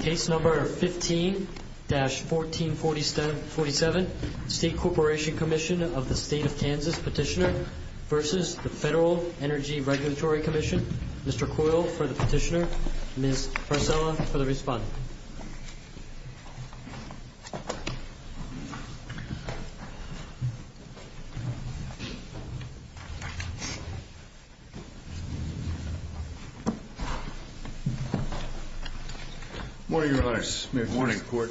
Case No. 15-1447, State Corporation Commission of the State of Kansas Petitioner v. Federal Energy Regulatory Commission Mr. Coyle for the petitioner, Ms. Priscilla for the respondent Good morning, Your Honors. Good morning, Court.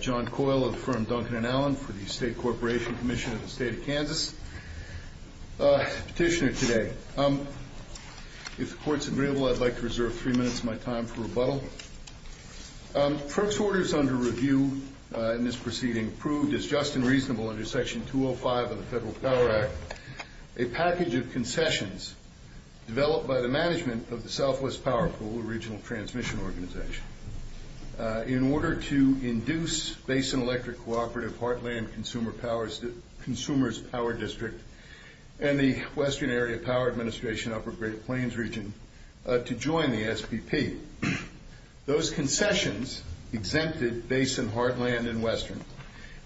John Coyle of the firm Duncan & Allen for the State Corporation Commission of the State of Kansas. Petitioner today. If the Court's agreeable, I'd like to reserve three minutes of my time for rebuttal. FERC's orders under review in this proceeding proved as just and reasonable under Section 205 of the Federal Power Act a package of concessions developed by the management of the Southwest Power Pool, a regional transmission organization, in order to induce Basin Electric Cooperative Heartland Consumer Power District and the Western Area Power Administration Upper Great Plains Region to join the SPP. Those concessions exempted Basin Heartland and Western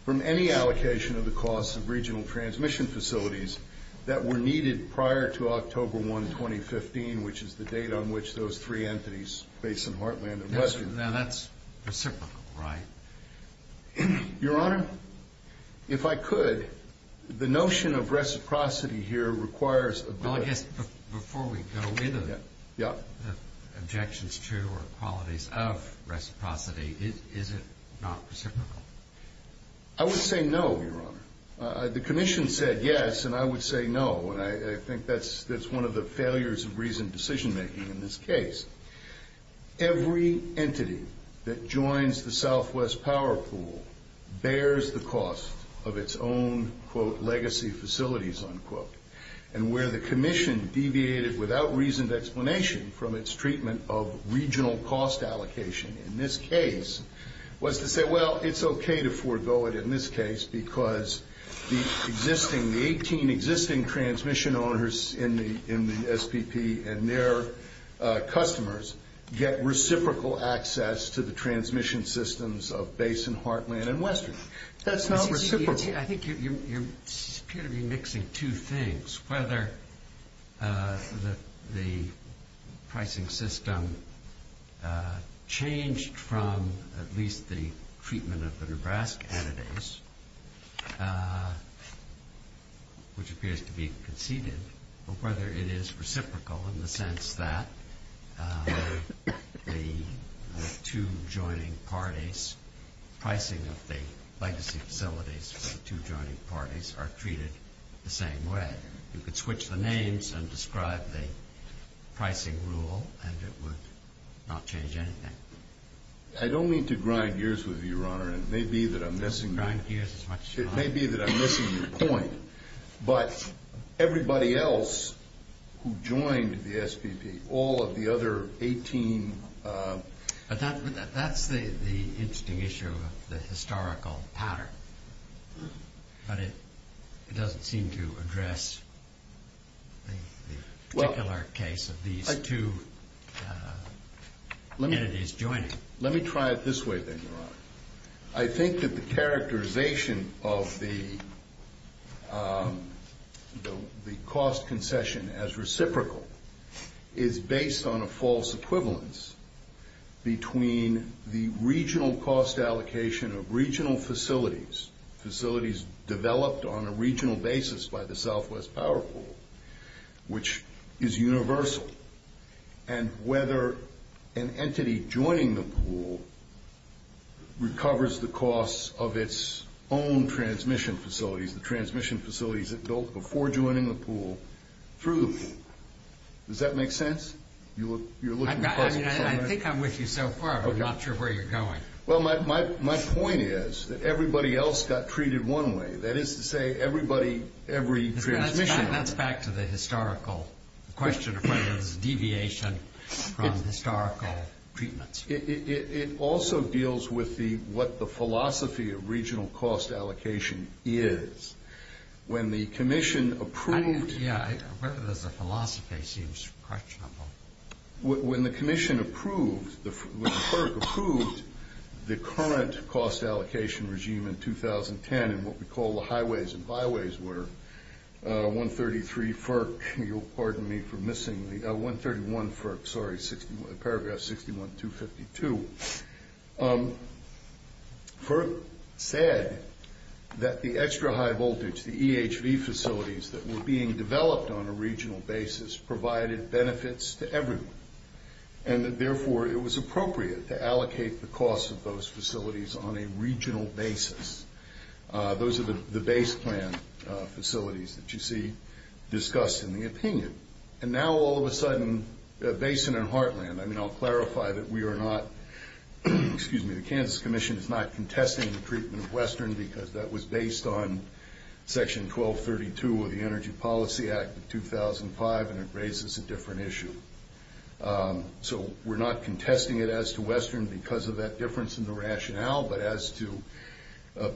from any allocation of the costs of regional transmission facilities that were needed prior to October 1, 2015, which is the date on which those three entities, Basin Heartland and Western Now that's reciprocal, right? Your Honor, if I could, the notion of reciprocity here requires a bill of The objections to or qualities of reciprocity, is it not reciprocal? I would say no, Your Honor. The Commission said yes, and I would say no. And I think that's one of the failures of reasoned decision-making in this case. Every entity that joins the Southwest Power Pool bears the cost of its own, quote, without reasoned explanation from its treatment of regional cost allocation in this case, was to say, well, it's okay to forego it in this case because the existing, the 18 existing transmission owners in the SPP and their customers get reciprocal access to the transmission systems of Basin Heartland and Western. That's not reciprocal. I think you're mixing two things, whether the pricing system changed from at least the treatment of the Nebraska entities, which appears to be conceded, or whether it is reciprocal in the sense that the two joining parties, the pricing of the legacy facilities for the two joining parties are treated the same way. You could switch the names and describe the pricing rule, and it would not change anything. I don't mean to grind gears with you, Your Honor, and it may be that I'm missing your point. But everybody else who joined the SPP, all of the other 18 But that's the interesting issue of the historical pattern. But it doesn't seem to address the particular case of these two entities joining. Let me try it this way then, Your Honor. I think that the characterization of the cost concession as reciprocal is based on a false equivalence between the regional cost allocation of regional facilities, facilities developed on a regional basis by the Southwest Power Pool, which is universal, and whether an entity joining the pool recovers the cost of its own transmission facilities, the transmission facilities it built before joining the pool through the pool. Does that make sense? I think I'm with you so far. I'm not sure where you're going. Well, my point is that everybody else got treated one way. That is to say, everybody, every transmission. That's back to the historical question of whether there's a deviation from historical treatments. It also deals with what the philosophy of regional cost allocation is. When the commission approved Yeah, whether there's a philosophy seems questionable. When the commission approved, when the clerk approved the current cost allocation regime in 2010 and what we call the highways and byways were, 133 FERC, you'll pardon me for missing the, 131 FERC, sorry, paragraph 61-252. FERC said that the extra high voltage, the EHV facilities that were being developed on a regional basis, provided benefits to everyone, and that, therefore, it was appropriate to allocate the cost of those facilities on a regional basis. Those are the base plan facilities that you see discussed in the opinion. And now, all of a sudden, Basin and Heartland, I mean, I'll clarify that we are not, excuse me, the Kansas Commission is not contesting the treatment of Western because that was based on Section 1232 of the Energy Policy Act of 2005, and it raises a different issue. So we're not contesting it as to Western because of that difference in the rationale, but as to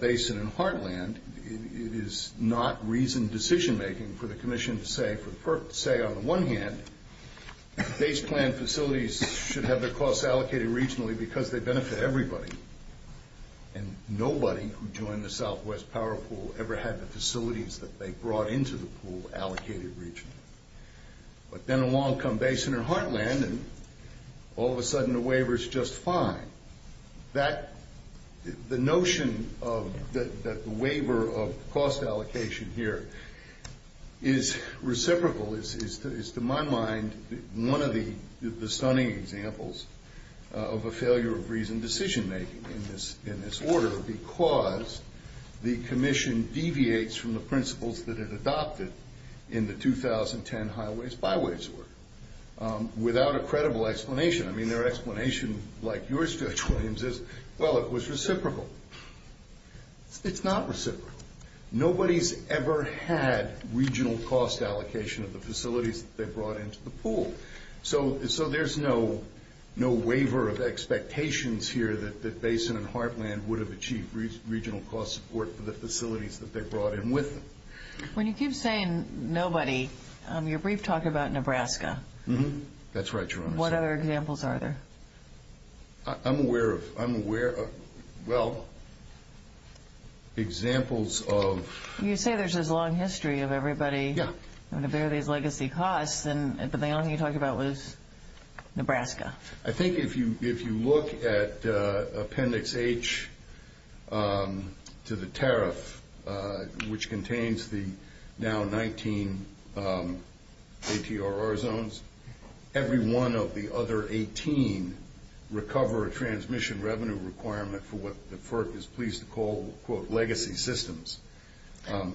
Basin and Heartland, it is not reasoned decision-making for the commission to say, on the one hand, base plan facilities should have their costs allocated regionally because they benefit everybody, and nobody who joined the Southwest Power Pool ever had the facilities that they brought into the pool allocated regionally. But then along come Basin and Heartland, and all of a sudden the waiver is just fine. That, the notion of the waiver of cost allocation here is reciprocal, is to my mind one of the stunning examples of a failure of reasoned decision-making in this order because the commission deviates from the principles that it adopted in the 2010 Highways-Byways work without a credible explanation. I mean, their explanation, like yours, Judge Williams, is, well, it was reciprocal. It's not reciprocal. Nobody's ever had regional cost allocation of the facilities that they brought into the pool. So there's no waiver of expectations here that Basin and Heartland would have achieved regional cost support for the facilities that they brought in with them. When you keep saying nobody, you're brief-talking about Nebraska. That's right, Your Honor. What other examples are there? I'm aware of, well, examples of... You say there's this long history of everybody. Yeah. And if there are these legacy costs, then the only thing you talked about was Nebraska. I think if you look at Appendix H to the tariff, which contains the now 19 APRR zones, every one of the other 18 recover a transmission revenue requirement for what the FERC is pleased to call, quote, legacy systems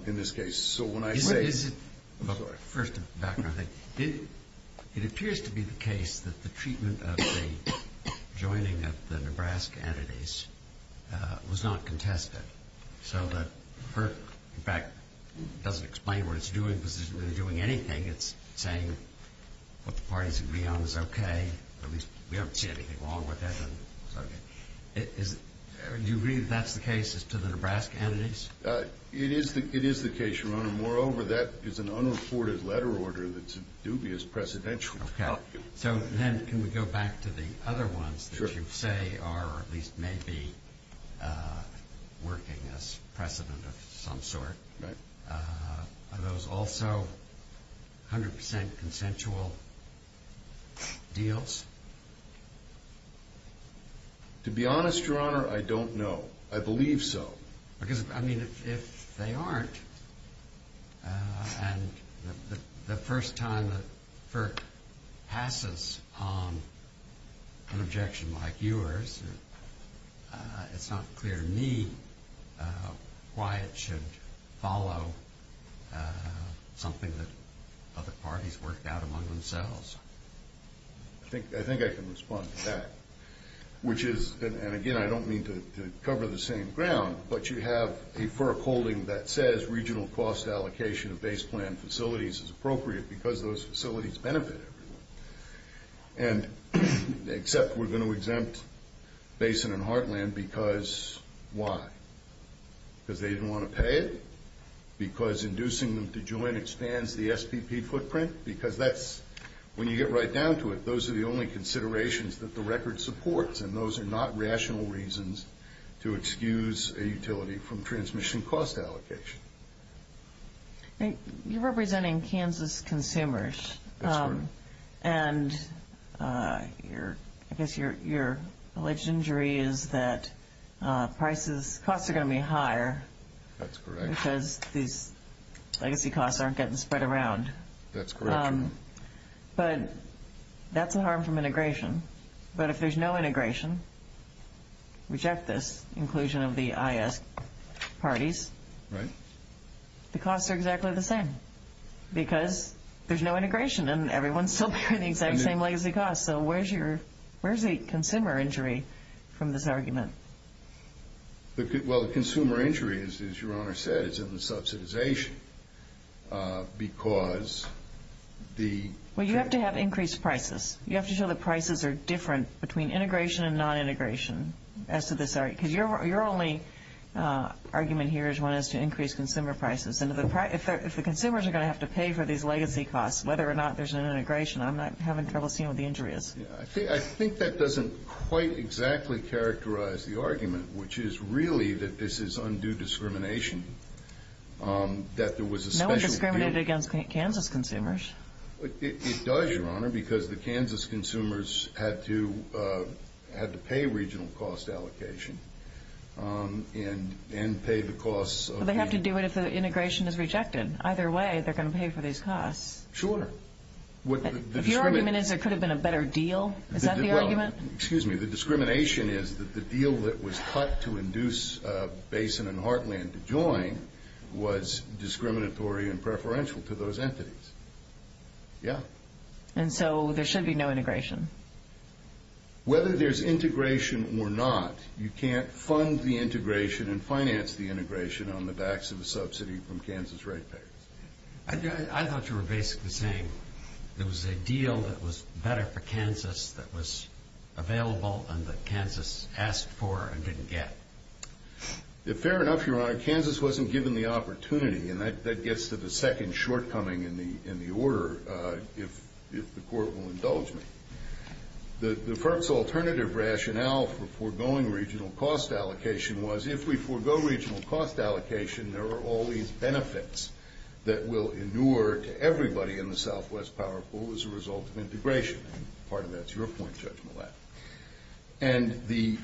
in this case. So when I say... Is it... I'm sorry. First, it appears to be the case that the treatment of the joining of the Nebraska entities was not contested so that FERC, in fact, doesn't explain what it's doing because it's not doing anything. It's saying what the parties agree on is okay. At least we don't see anything wrong with it. Do you agree that that's the case as to the Nebraska entities? It is the case, Your Honor. Moreover, that is an unreported letter order that's a dubious precedential. Okay. So then can we go back to the other ones that you say are, or at least may be, working as precedent of some sort? Right. Are those also 100 percent consensual deals? To be honest, Your Honor, I don't know. I believe so. Because, I mean, if they aren't and the first time that FERC passes on an objection like yours, it's not clear to me why it should follow something that other parties worked out among themselves. I think I can respond to that. Which is, and again, I don't mean to cover the same ground, but you have a FERC holding that says regional cost allocation of base plan facilities is appropriate because those facilities benefit everyone. Except we're going to exempt Basin and Heartland because why? Because they didn't want to pay it? Because inducing them to join expands the SPP footprint? Because that's, when you get right down to it, those are the only considerations that the record supports, and those are not rational reasons to excuse a utility from transmission cost allocation. You're representing Kansas consumers. That's correct. And I guess your alleged injury is that prices, costs are going to be higher. That's correct. Because these legacy costs aren't getting spread around. That's correct. But that's a harm from integration. But if there's no integration, reject this inclusion of the IS parties. Right. The costs are exactly the same. Because there's no integration and everyone's still paying the exact same legacy costs. So where's the consumer injury from this argument? Well, the consumer injury, as Your Honor said, is in the subsidization because the- Well, you have to have increased prices. You have to show that prices are different between integration and non-integration. Because your only argument here is one as to increased consumer prices. And if the consumers are going to have to pay for these legacy costs, whether or not there's an integration, I'm not having trouble seeing what the injury is. I think that doesn't quite exactly characterize the argument, which is really that this is undue discrimination, that there was a special- No one discriminated against Kansas consumers. It does, Your Honor, because the Kansas consumers had to pay regional cost allocation and pay the costs- Well, they have to do it if the integration is rejected. Either way, they're going to pay for these costs. Sure. If your argument is there could have been a better deal, is that the argument? Well, excuse me. The discrimination is that the deal that was cut to induce Basin and Heartland to join was discriminatory and preferential to those entities. Yeah. And so there should be no integration? Whether there's integration or not, you can't fund the integration and finance the integration on the backs of a subsidy from Kansas ratepayers. I thought you were basically saying there was a deal that was better for Kansas that was available and that Kansas asked for and didn't get. Fair enough, Your Honor. Kansas wasn't given the opportunity, and that gets to the second shortcoming in the order, if the Court will indulge me. The firm's alternative rationale for foregoing regional cost allocation was if we forego regional cost allocation, there are all these benefits that will inure to everybody in the Southwest Power Pool as a result of integration. Part of that's your point, Judge Millett. And the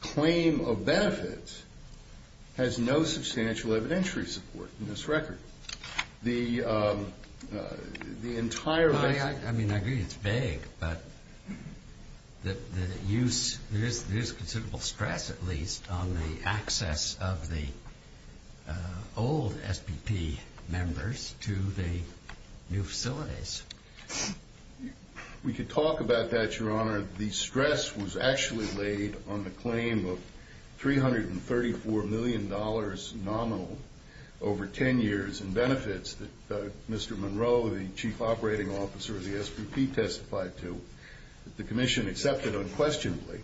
claim of benefits has no substantial evidentiary support in this record. I mean, I agree it's vague, but there is considerable stress, at least, on the access of the old SBP members to the new facilities. We could talk about that, Your Honor. The stress was actually laid on the claim of $334 million nominal over 10 years in benefits that Mr. Monroe, the Chief Operating Officer of the SBP, testified to. The commission accepted unquestionably.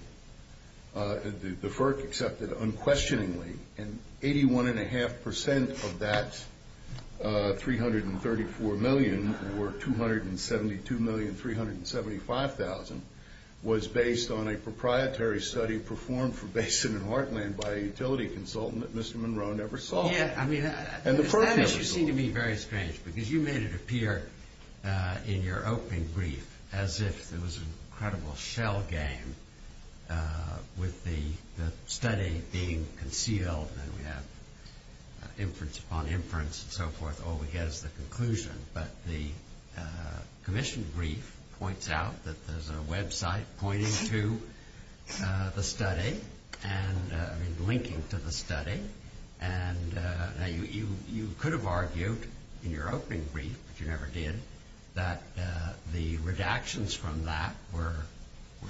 The FERC accepted unquestioningly. And 81.5% of that $334 million, or $272,375,000, was based on a proprietary study performed for Basin and Heartland by a utility consultant that Mr. Monroe never saw. Yeah, I mean, you seem to me very strange, because you made it appear in your opening brief as if it was an incredible shell game with the study being concealed and we have inference upon inference and so forth, all we get is the conclusion. But the commission brief points out that there's a website pointing to the study, I mean, linking to the study. And you could have argued in your opening brief, which you never did, that the redactions from that were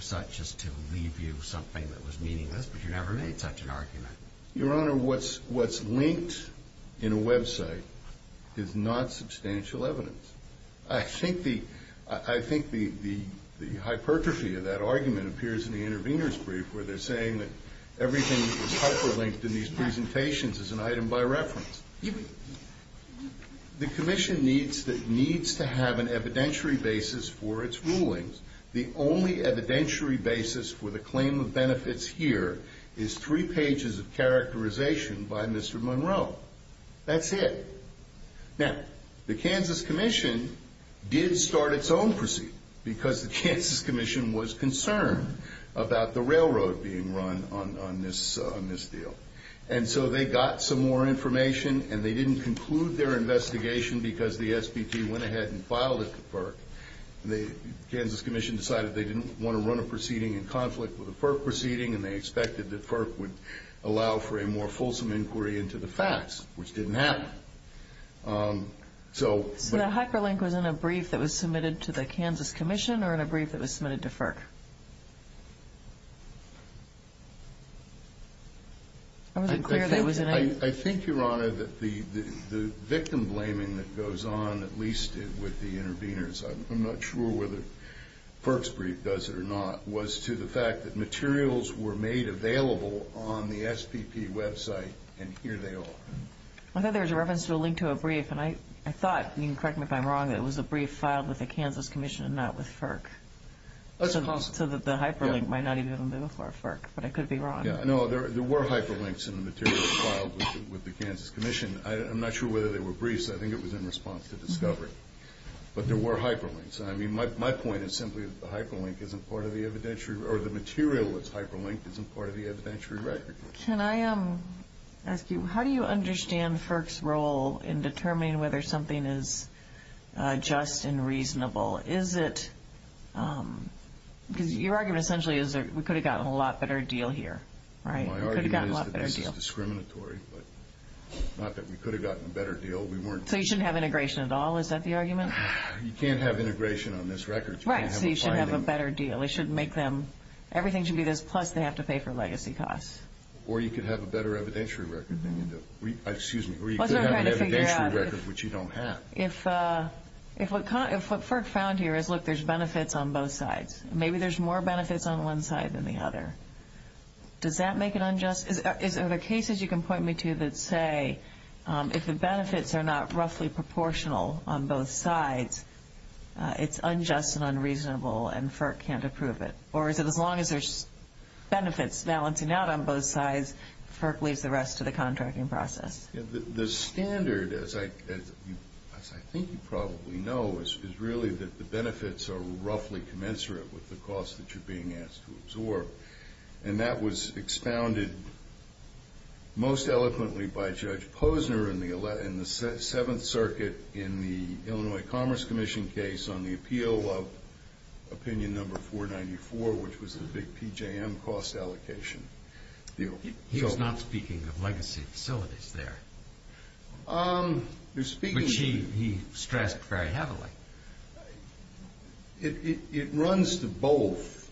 such as to leave you something that was meaningless, but you never made such an argument. Your Honor, what's linked in a website is not substantial evidence. I think the hypertrophy of that argument appears in the intervener's brief where they're saying that everything that was hyperlinked in these presentations is an item by reference. The commission needs to have an evidentiary basis for its rulings. The only evidentiary basis for the claim of benefits here is three pages of characterization by Mr. Monroe. That's it. Now, the Kansas Commission did start its own proceed because the Kansas Commission was concerned about the railroad being run on this deal. And so they got some more information, and they didn't conclude their investigation because the SBT went ahead and filed it to FERC. The Kansas Commission decided they didn't want to run a proceeding in conflict with a FERC proceeding, and they expected that FERC would allow for a more fulsome inquiry into the facts, which didn't happen. So the hyperlink was in a brief that was submitted to the Kansas Commission or in a brief that was submitted to FERC? I wasn't clear there, was I? I think, Your Honor, that the victim blaming that goes on, at least with the interveners, I'm not sure whether FERC's brief does it or not, was to the fact that materials were made available on the SPP website, and here they are. I thought there was a reference to a link to a brief, and I thought, and you can correct me if I'm wrong, that it was a brief filed with the Kansas Commission and not with FERC. So the hyperlink might not even have been before FERC, but I could be wrong. No, there were hyperlinks in the materials filed with the Kansas Commission. I'm not sure whether they were briefs. I think it was in response to discovery, but there were hyperlinks. My point is simply that the hyperlink isn't part of the evidentiary or the material that's hyperlinked isn't part of the evidentiary record. Can I ask you, how do you understand FERC's role in determining whether something is just and reasonable? Is it, because your argument essentially is that we could have gotten a lot better deal here, right? My argument is that this is discriminatory, but not that we could have gotten a better deal. So you shouldn't have integration at all? Is that the argument? You can't have integration on this record. Right, so you shouldn't have a better deal. Everything should be this, plus they have to pay for legacy costs. Or you could have a better evidentiary record than you do. Excuse me, or you could have an evidentiary record, which you don't have. If what FERC found here is, look, there's benefits on both sides. Maybe there's more benefits on one side than the other. Does that make it unjust? Are there cases you can point me to that say if the benefits are not roughly proportional on both sides, it's unjust and unreasonable, and FERC can't approve it? Or is it as long as there's benefits balancing out on both sides, FERC leaves the rest to the contracting process? The standard, as I think you probably know, is really that the benefits are roughly commensurate with the costs that you're being asked to absorb. And that was expounded most eloquently by Judge Posner in the Seventh Circuit in the Illinois Commerce Commission case on the appeal of opinion number 494, which was the big PJM cost allocation deal. He was not speaking of legacy facilities there, which he stressed very heavily. It runs to both,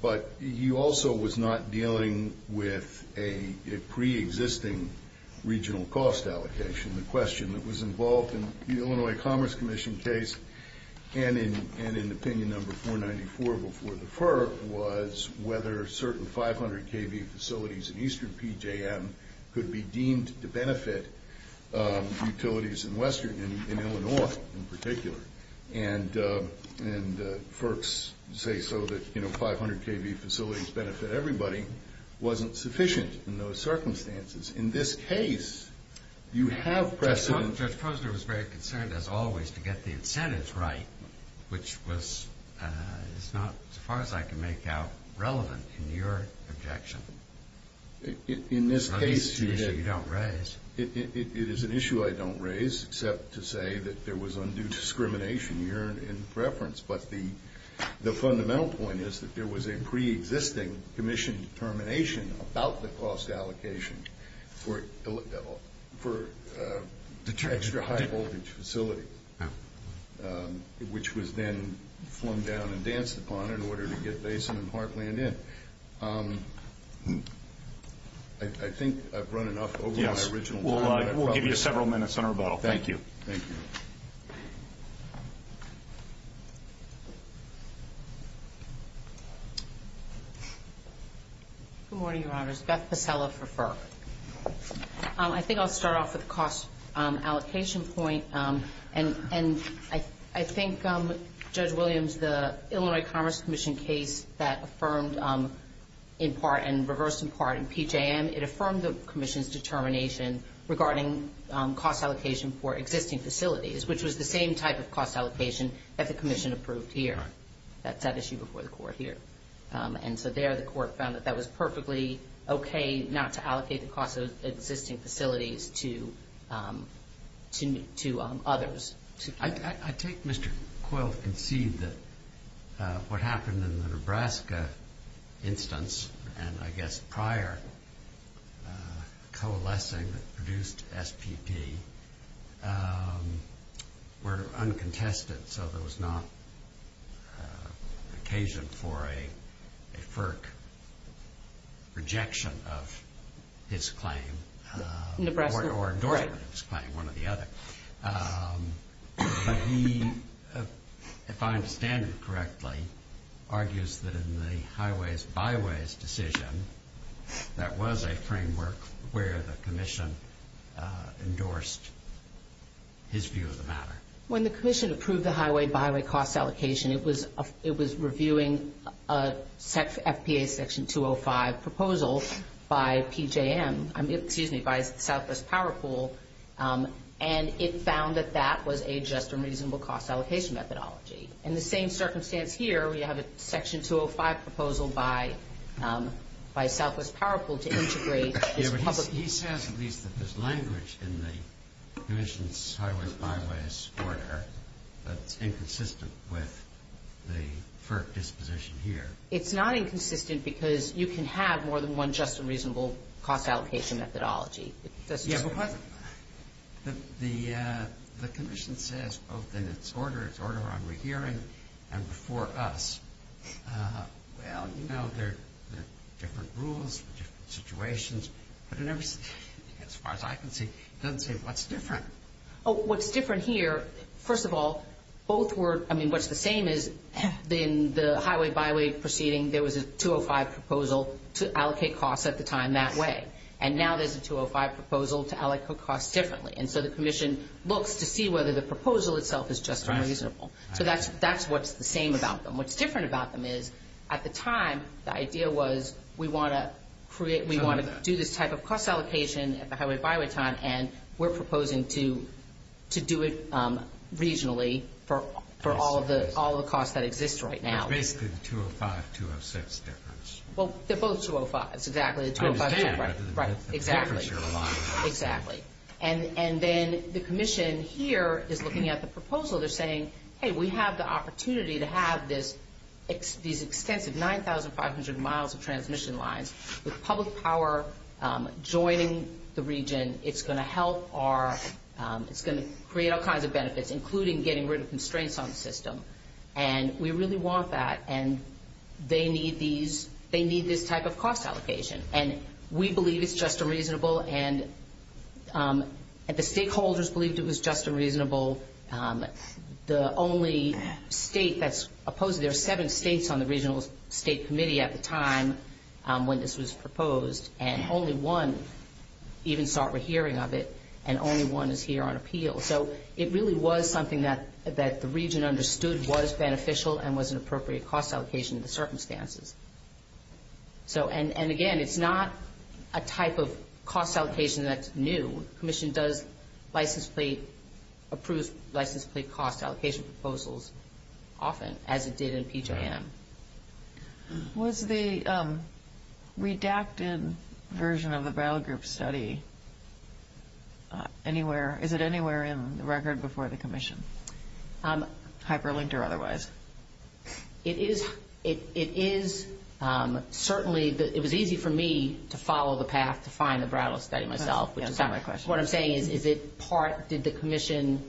but he also was not dealing with a preexisting regional cost allocation. The question that was involved in the Illinois Commerce Commission case and in opinion number 494 before the FERC was whether certain 500 kV facilities in eastern PJM could be deemed to benefit utilities in Illinois in particular. And FERC's say so that 500 kV facilities benefit everybody wasn't sufficient in those circumstances. In this case, you have precedent. Judge Posner was very concerned, as always, to get the incentives right, which is not, as far as I can make out, relevant in your objection. In this case, it is an issue I don't raise, except to say that there was undue discrimination here in preference. But the fundamental point is that there was a preexisting commission determination about the cost allocation for extra high-voltage facilities. Which was then flung down and danced upon in order to get Basin and Heartland in. I think I've run enough over my original time. Yes, we'll give you several minutes on rebuttal. Thank you. Thank you. Good morning, Your Honors. Beth Pasella for FERC. I think I'll start off with the cost allocation point. And I think, Judge Williams, the Illinois Commerce Commission case that affirmed in part and reversed in part in PJM, it affirmed the commission's determination regarding cost allocation for existing facilities, which was the same type of cost allocation that the commission approved here. That's that issue before the court here. And so there the court found that that was perfectly okay, not to allocate the cost of existing facilities to others. I take Mr. Coyle to concede that what happened in the Nebraska instance, and I guess prior coalescing that produced SPP, were uncontested, so there was not occasion for a FERC rejection of his claim or endorsement of his claim, one or the other. But he, if I understand it correctly, argues that in the highways-byways decision, that was a framework where the commission endorsed his view of the matter. When the commission approved the highway-byway cost allocation, it was reviewing an FPA Section 205 proposal by PJM, excuse me, by Southwest Power Pool, and it found that that was a just and reasonable cost allocation methodology. In the same circumstance here, we have a Section 205 proposal by Southwest Power Pool to integrate. Yeah, but he says at least that there's language in the commission's highway-byways order that's inconsistent with the FERC disposition here. It's not inconsistent because you can have more than one just and reasonable cost allocation methodology. Yeah, but the commission says both in its order on rehearing and before us, well, you know, there are different rules, different situations, but as far as I can see, it doesn't say what's different. Oh, what's different here, first of all, both were, I mean, what's the same is in the highway-byway proceeding, there was a 205 proposal to allocate costs at the time that way, and now there's a 205 proposal to allocate costs differently, and so the commission looks to see whether the proposal itself is just and reasonable. So that's what's the same about them. What's different about them is at the time, the idea was we want to create, we want to do this type of cost allocation at the highway-byway time, and we're proposing to do it regionally for all the costs that exist right now. Basically, the 205-206 difference. Well, they're both 205s, exactly. I understand. Right, exactly. And then the commission here is looking at the proposal. They're saying, hey, we have the opportunity to have these extensive 9,500 miles of transmission lines with public power joining the region. It's going to help our, it's going to create all kinds of benefits, including getting rid of constraints on the system, and we really want that, and they need these, they need this type of cost allocation, and we believe it's just and reasonable, and the stakeholders believed it was just and reasonable. The only state that's opposed, there are seven states on the regional state committee at the time when this was proposed, and only one even sought a hearing of it, and only one is here on appeal. So it really was something that the region understood was beneficial and was an appropriate cost allocation in the circumstances. And again, it's not a type of cost allocation that's new. Commission does license plate, approves license plate cost allocation proposals often, as it did in PJM. Was the redacted version of the Brattle Group study anywhere, is it anywhere in the record before the commission, hyperlinked or otherwise? It is certainly, it was easy for me to follow the path to find the Brattle study myself. That's not my question. What I'm saying is, is it part, did the commission?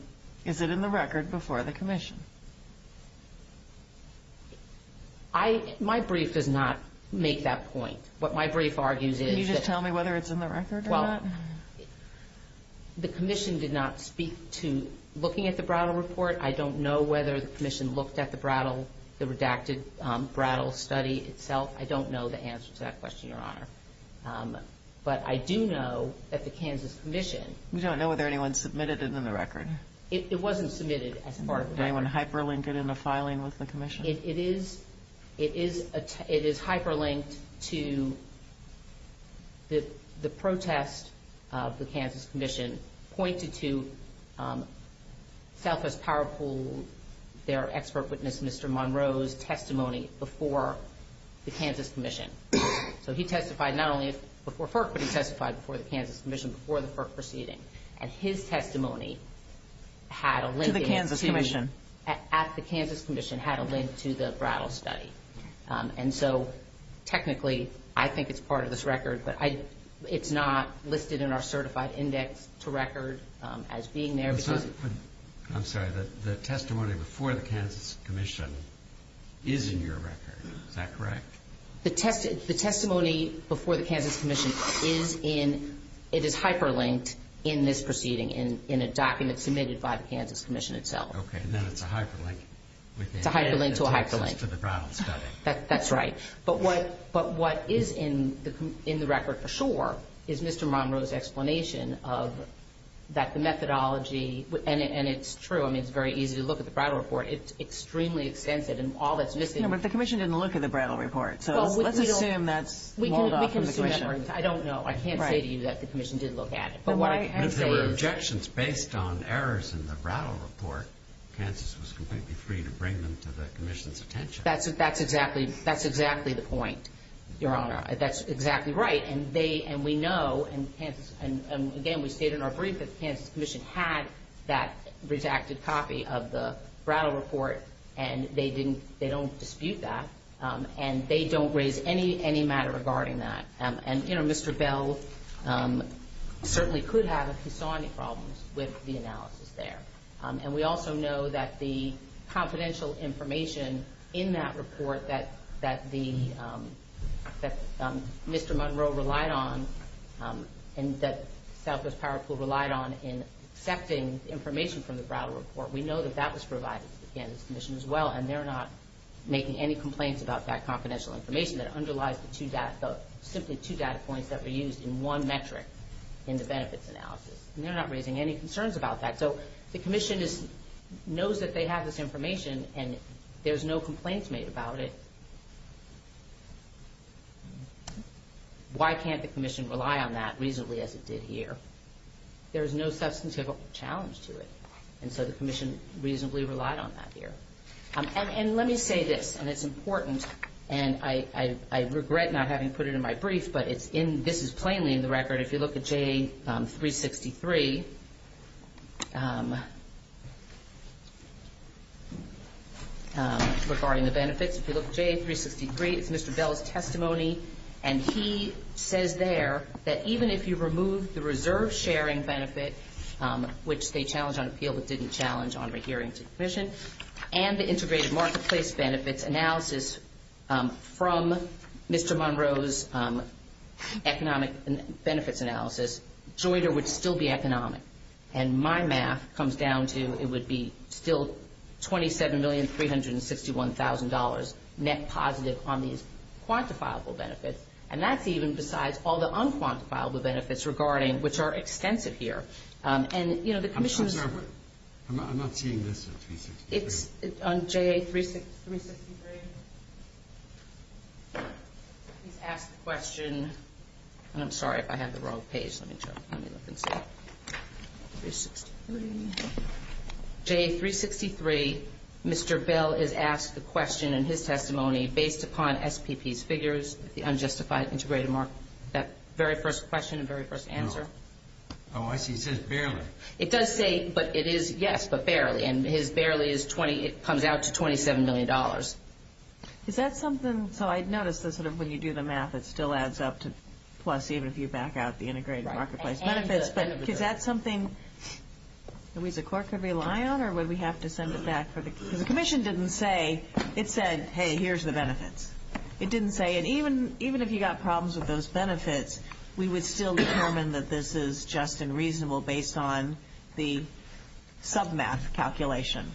Is it in the record before the commission? My brief does not make that point. What my brief argues is that. Can you just tell me whether it's in the record or not? Well, the commission did not speak to looking at the Brattle report. I don't know whether the commission looked at the Brattle, the redacted Brattle study itself. I don't know the answer to that question, Your Honor. But I do know that the Kansas Commission. You don't know whether anyone submitted it in the record? It wasn't submitted as part of the record. Anyone hyperlinked it in the filing with the commission? It is hyperlinked to the protest of the Kansas Commission pointed to Southwest Power Pool, their expert witness, Mr. Monroe's testimony before the Kansas Commission. So he testified not only before FERC, but he testified before the Kansas Commission, before the FERC proceeding. And his testimony had a link. To the Kansas Commission. At the Kansas Commission had a link to the Brattle study. And so, technically, I think it's part of this record. But it's not listed in our certified index to record as being there. I'm sorry. The testimony before the Kansas Commission is in your record. Is that correct? The testimony before the Kansas Commission is in, it is hyperlinked in this proceeding, in a document submitted by the Kansas Commission itself. Okay. And then it's a hyperlink. It's a hyperlink to a hyperlink. To the Brattle study. That's right. But what is in the record for sure is Mr. Monroe's explanation of that the methodology, and it's true. I mean, it's very easy to look at the Brattle report. It's extremely extensive, and all that's missing. But the commission didn't look at the Brattle report. So let's assume that's mulled off from the commission. I don't know. I can't say to you that the commission did look at it. But what I can say is. But if there were objections based on errors in the Brattle report, Kansas was completely free to bring them to the commission's attention. That's exactly the point, Your Honor. That's exactly right. And we know, and, again, we state in our brief that the Kansas Commission had that rejected copy of the Brattle report. And they don't dispute that. And they don't raise any matter regarding that. And, you know, Mr. Bell certainly could have if he saw any problems with the analysis there. And we also know that the confidential information in that report that Mr. Monroe relied on and that Southwest Power Pool relied on in accepting information from the Brattle report, we know that that was provided to the Kansas Commission as well. And they're not making any complaints about that confidential information that underlies the simply two data points that were used in one metric in the benefits analysis. And they're not raising any concerns about that. So the commission knows that they have this information and there's no complaints made about it. Why can't the commission rely on that reasonably as it did here? There's no substantive challenge to it. And so the commission reasonably relied on that here. And let me say this, and it's important. And I regret not having put it in my brief, but this is plainly in the record. If you look at JA-363 regarding the benefits, if you look at JA-363, it's Mr. Bell's testimony. And he says there that even if you remove the reserve sharing benefit, which they challenged on appeal but didn't challenge on rehearing to the commission, and the integrated marketplace benefits analysis from Mr. Monroe's economic benefits analysis, JOIDER would still be economic. And my math comes down to it would be still $27,361,000 net positive on these quantifiable benefits. And that's even besides all the unquantifiable benefits regarding, which are extensive here. And, you know, the commission's... I'm sorry. I'm not seeing this at 363. It's on JA-363. Please ask the question. And I'm sorry if I have the wrong page. JA-363, Mr. Bell is asked the question in his testimony based upon SPP's figures, the unjustified integrated market, that very first question and very first answer. Oh, I see. He says barely. It does say, but it is yes, but barely. And his barely comes out to $27 million. Is that something? So I noticed that sort of when you do the math, it still adds up to plus, even if you back out the integrated marketplace benefits. But is that something that we as a court could rely on or would we have to send it back? Because the commission didn't say. It said, hey, here's the benefits. It didn't say. And even if you got problems with those benefits, we would still determine that this is just and reasonable based on the submath calculation.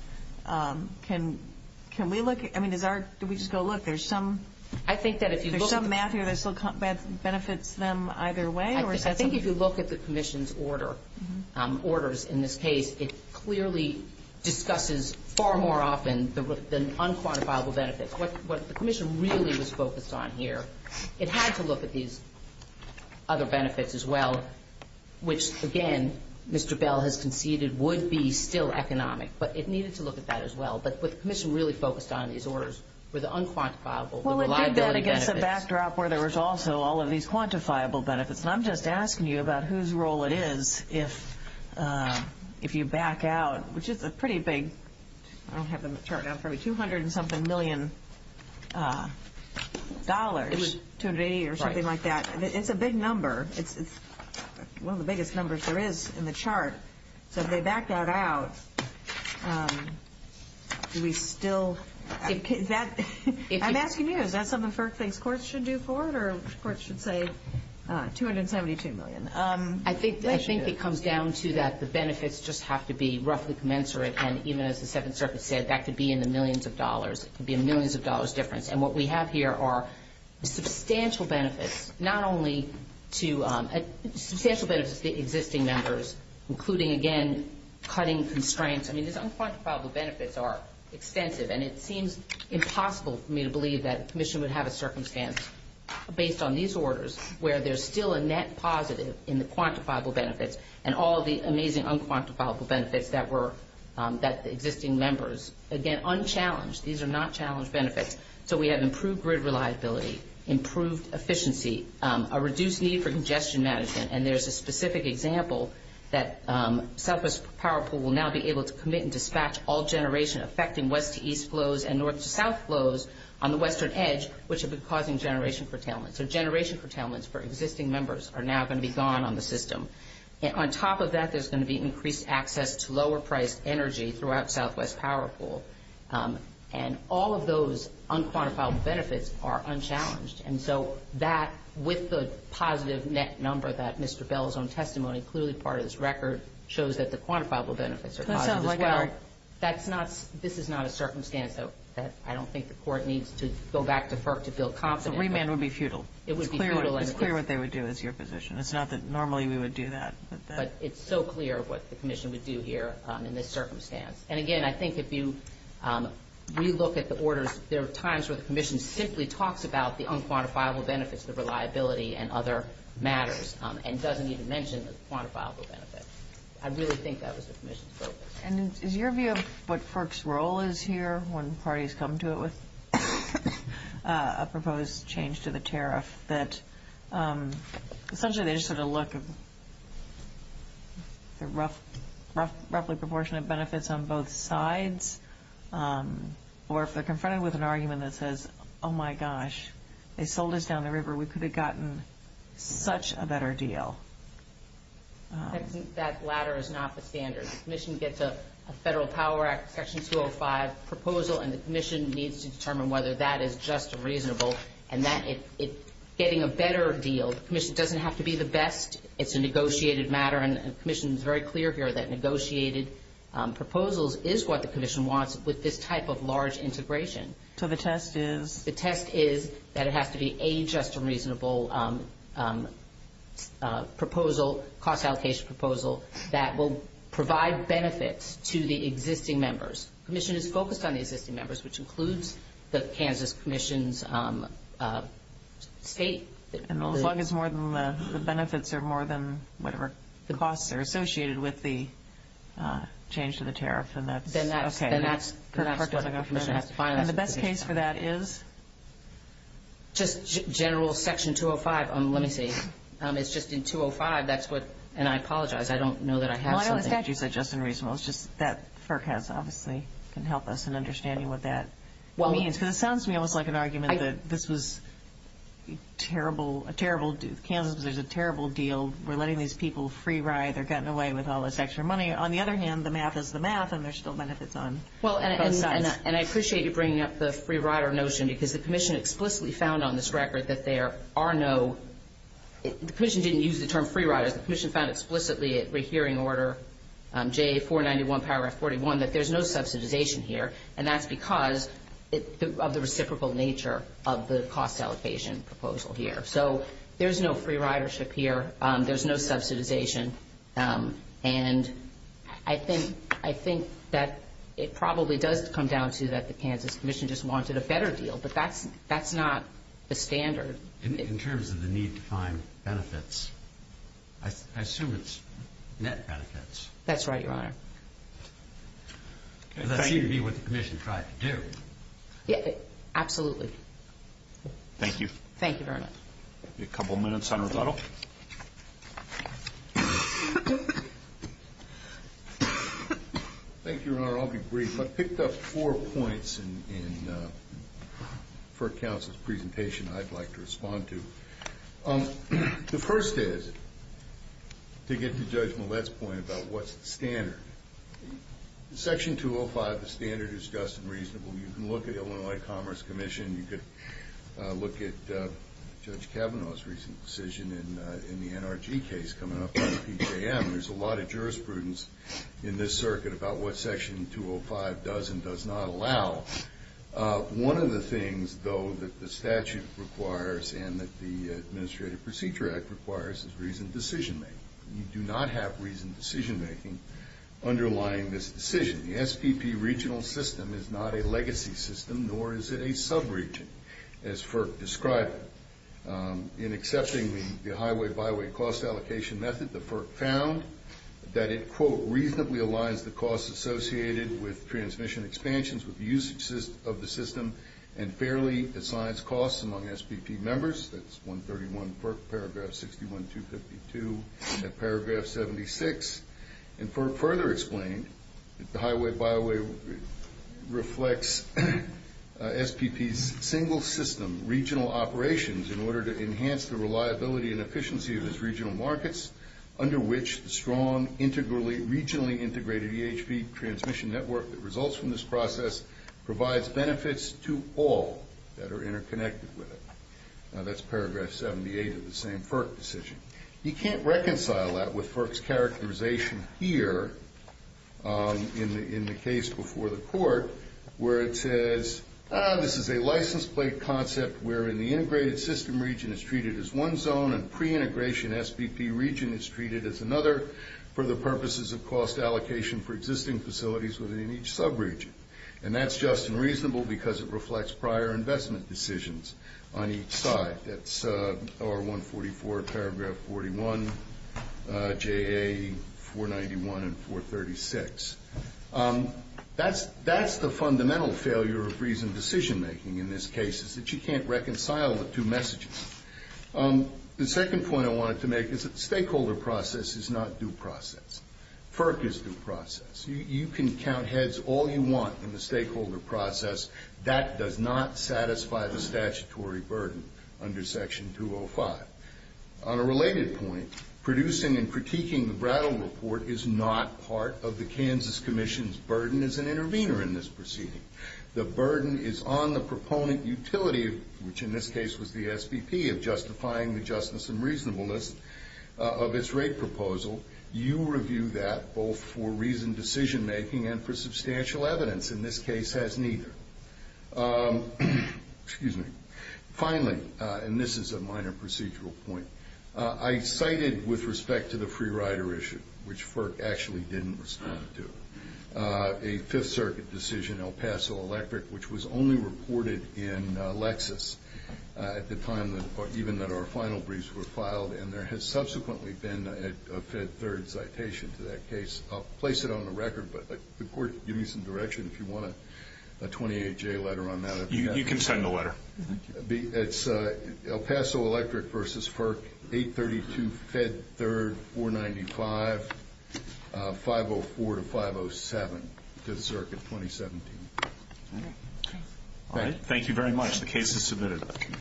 Can we look? I mean, do we just go look? There's some math here that benefits them either way. I think if you look at the commission's orders in this case, it clearly discusses far more often than unquantifiable benefits. What the commission really was focused on here, it had to look at these other benefits as well, which, again, Mr. Bell has conceded would be still economic. But it needed to look at that as well. But what the commission really focused on in these orders were the unquantifiable, the reliability benefits. Well, it did that against a backdrop where there was also all of these quantifiable benefits. And I'm just asking you about whose role it is if you back out, which is a pretty big, I don't have the chart down for me, 200 and something million dollars to me or something like that. It's a big number. It's one of the biggest numbers there is in the chart. So if they back that out, do we still – I'm asking you, is that something FERC thinks courts should do for it or courts should say 272 million? I think it comes down to that the benefits just have to be roughly commensurate. And even as the Seventh Circuit said, that could be in the millions of dollars. It could be a millions of dollars difference. And what we have here are substantial benefits, not only to – including, again, cutting constraints. I mean, these unquantifiable benefits are extensive. And it seems impossible for me to believe that the commission would have a circumstance, based on these orders, where there's still a net positive in the quantifiable benefits and all the amazing unquantifiable benefits that were – that the existing members – again, unchallenged. These are not challenged benefits. So we have improved grid reliability, improved efficiency, a reduced need for congestion management. And there's a specific example that Southwest Power Pool will now be able to commit and dispatch all generation-affecting west-to-east flows and north-to-south flows on the western edge, which have been causing generation curtailment. So generation curtailments for existing members are now going to be gone on the system. On top of that, there's going to be increased access to lower-priced energy throughout Southwest Power Pool. And all of those unquantifiable benefits are unchallenged. And so that, with the positive net number that Mr. Bell's own testimony, clearly part of this record, shows that the quantifiable benefits are positive as well. That's not – this is not a circumstance that I don't think the Court needs to go back to FERC to feel confident. So remand would be futile. It would be futile. It's clear what they would do is your position. It's not that normally we would do that. But it's so clear what the commission would do here in this circumstance. And, again, I think if you re-look at the orders, there are times where the commission simply talks about the unquantifiable benefits, the reliability and other matters, and doesn't even mention the quantifiable benefits. I really think that was the commission's focus. And is your view of what FERC's role is here when parties come to it with a proposed change to the tariff, that essentially they just sort of look at the roughly proportionate benefits on both sides? Or if they're confronted with an argument that says, oh, my gosh, they sold us down the river. We could have gotten such a better deal. I think that latter is not the standard. The commission gets a Federal Power Act, Section 205 proposal, and the commission needs to determine whether that is just and reasonable. And that – getting a better deal, the commission doesn't have to be the best. It's a negotiated matter. And the commission is very clear here that negotiated proposals is what the commission wants with this type of large integration. So the test is? The test is that it has to be a just and reasonable proposal, cost allocation proposal, that will provide benefits to the existing members. The commission is focused on the existing members, which includes the Kansas Commission's state. As long as more than the benefits are more than whatever costs are associated with the change to the tariff. Then that's what the commission has to find. And the best case for that is? Just general Section 205. Let me see. It's just in 205. That's what – and I apologize. I don't know that I have something. Well, I know the statute said just and reasonable. It's just that FERC has obviously – can help us in understanding what that means. This sounds to me almost like an argument that this was terrible – Kansas was a terrible deal. We're letting these people free ride. They're getting away with all this extra money. On the other hand, the math is the math, and there's still benefits on both sides. And I appreciate you bringing up the free rider notion because the commission explicitly found on this record that there are no – the commission didn't use the term free riders. The commission found explicitly at rehearing order J491, paragraph 41, that there's no subsidization here. And that's because of the reciprocal nature of the cost allocation proposal here. So there's no free ridership here. There's no subsidization. And I think that it probably does come down to that the Kansas commission just wanted a better deal. But that's not the standard. In terms of the need to find benefits, I assume it's net benefits. That's right, Your Honor. That seemed to be what the commission tried to do. Yeah, absolutely. Thank you. Thank you very much. A couple minutes on rebuttal. Thank you, Your Honor. I'll be brief. I picked up four points for counsel's presentation I'd like to respond to. The first is to get to Judge Millett's point about what's the standard. In Section 205, the standard is just and reasonable. You can look at Illinois Commerce Commission. You could look at Judge Kavanaugh's recent decision in the NRG case coming up under PJM. There's a lot of jurisprudence in this circuit about what Section 205 does and does not allow. One of the things, though, that the statute requires and that the Administrative Procedure Act requires is reasoned decision-making. You do not have reasoned decision-making underlying this decision. The SPP regional system is not a legacy system, nor is it a subregion, as FERC described it. In accepting the highway-byway cost allocation method, the FERC found that it, quote, and fairly assigns costs among SPP members. That's 131 paragraph 61-252 and paragraph 76. And FERC further explained that the highway-byway reflects SPP's single-system regional operations in order to enhance the reliability and efficiency of its regional markets, under which the strong, regionally integrated EHV transmission network that results from this process provides benefits to all that are interconnected with it. Now, that's paragraph 78 of the same FERC decision. You can't reconcile that with FERC's characterization here in the case before the court, where it says, this is a license plate concept wherein the integrated system region is treated as one zone and pre-integration SPP region is treated as another for the purposes of cost allocation for existing facilities within each subregion. And that's just and reasonable because it reflects prior investment decisions on each side. That's R144 paragraph 41, JA 491 and 436. That's the fundamental failure of reasoned decision-making in this case, is that you can't reconcile the two messages. The second point I wanted to make is that the stakeholder process is not due process. FERC is due process. You can count heads all you want in the stakeholder process. That does not satisfy the statutory burden under Section 205. On a related point, producing and critiquing the Brattle Report is not part of the Kansas Commission's burden as an intervener in this proceeding. The burden is on the proponent utility, which in this case was the SPP, of justifying the justness and reasonableness of its rate proposal. You review that both for reasoned decision-making and for substantial evidence. In this case, it has neither. Finally, and this is a minor procedural point, I cited with respect to the free rider issue, which FERC actually didn't respond to, a Fifth Circuit decision, El Paso Electric, which was only reported in Lexis at the time even that our final briefs were filed. And there has subsequently been a Fed Third citation to that case. I'll place it on the record, but the Court can give me some direction if you want a 28-J letter on that. You can send the letter. It's El Paso Electric v. FERC, 832 Fed Third, 495, 504-507, Fifth Circuit, 2017. Thank you very much. The case is submitted.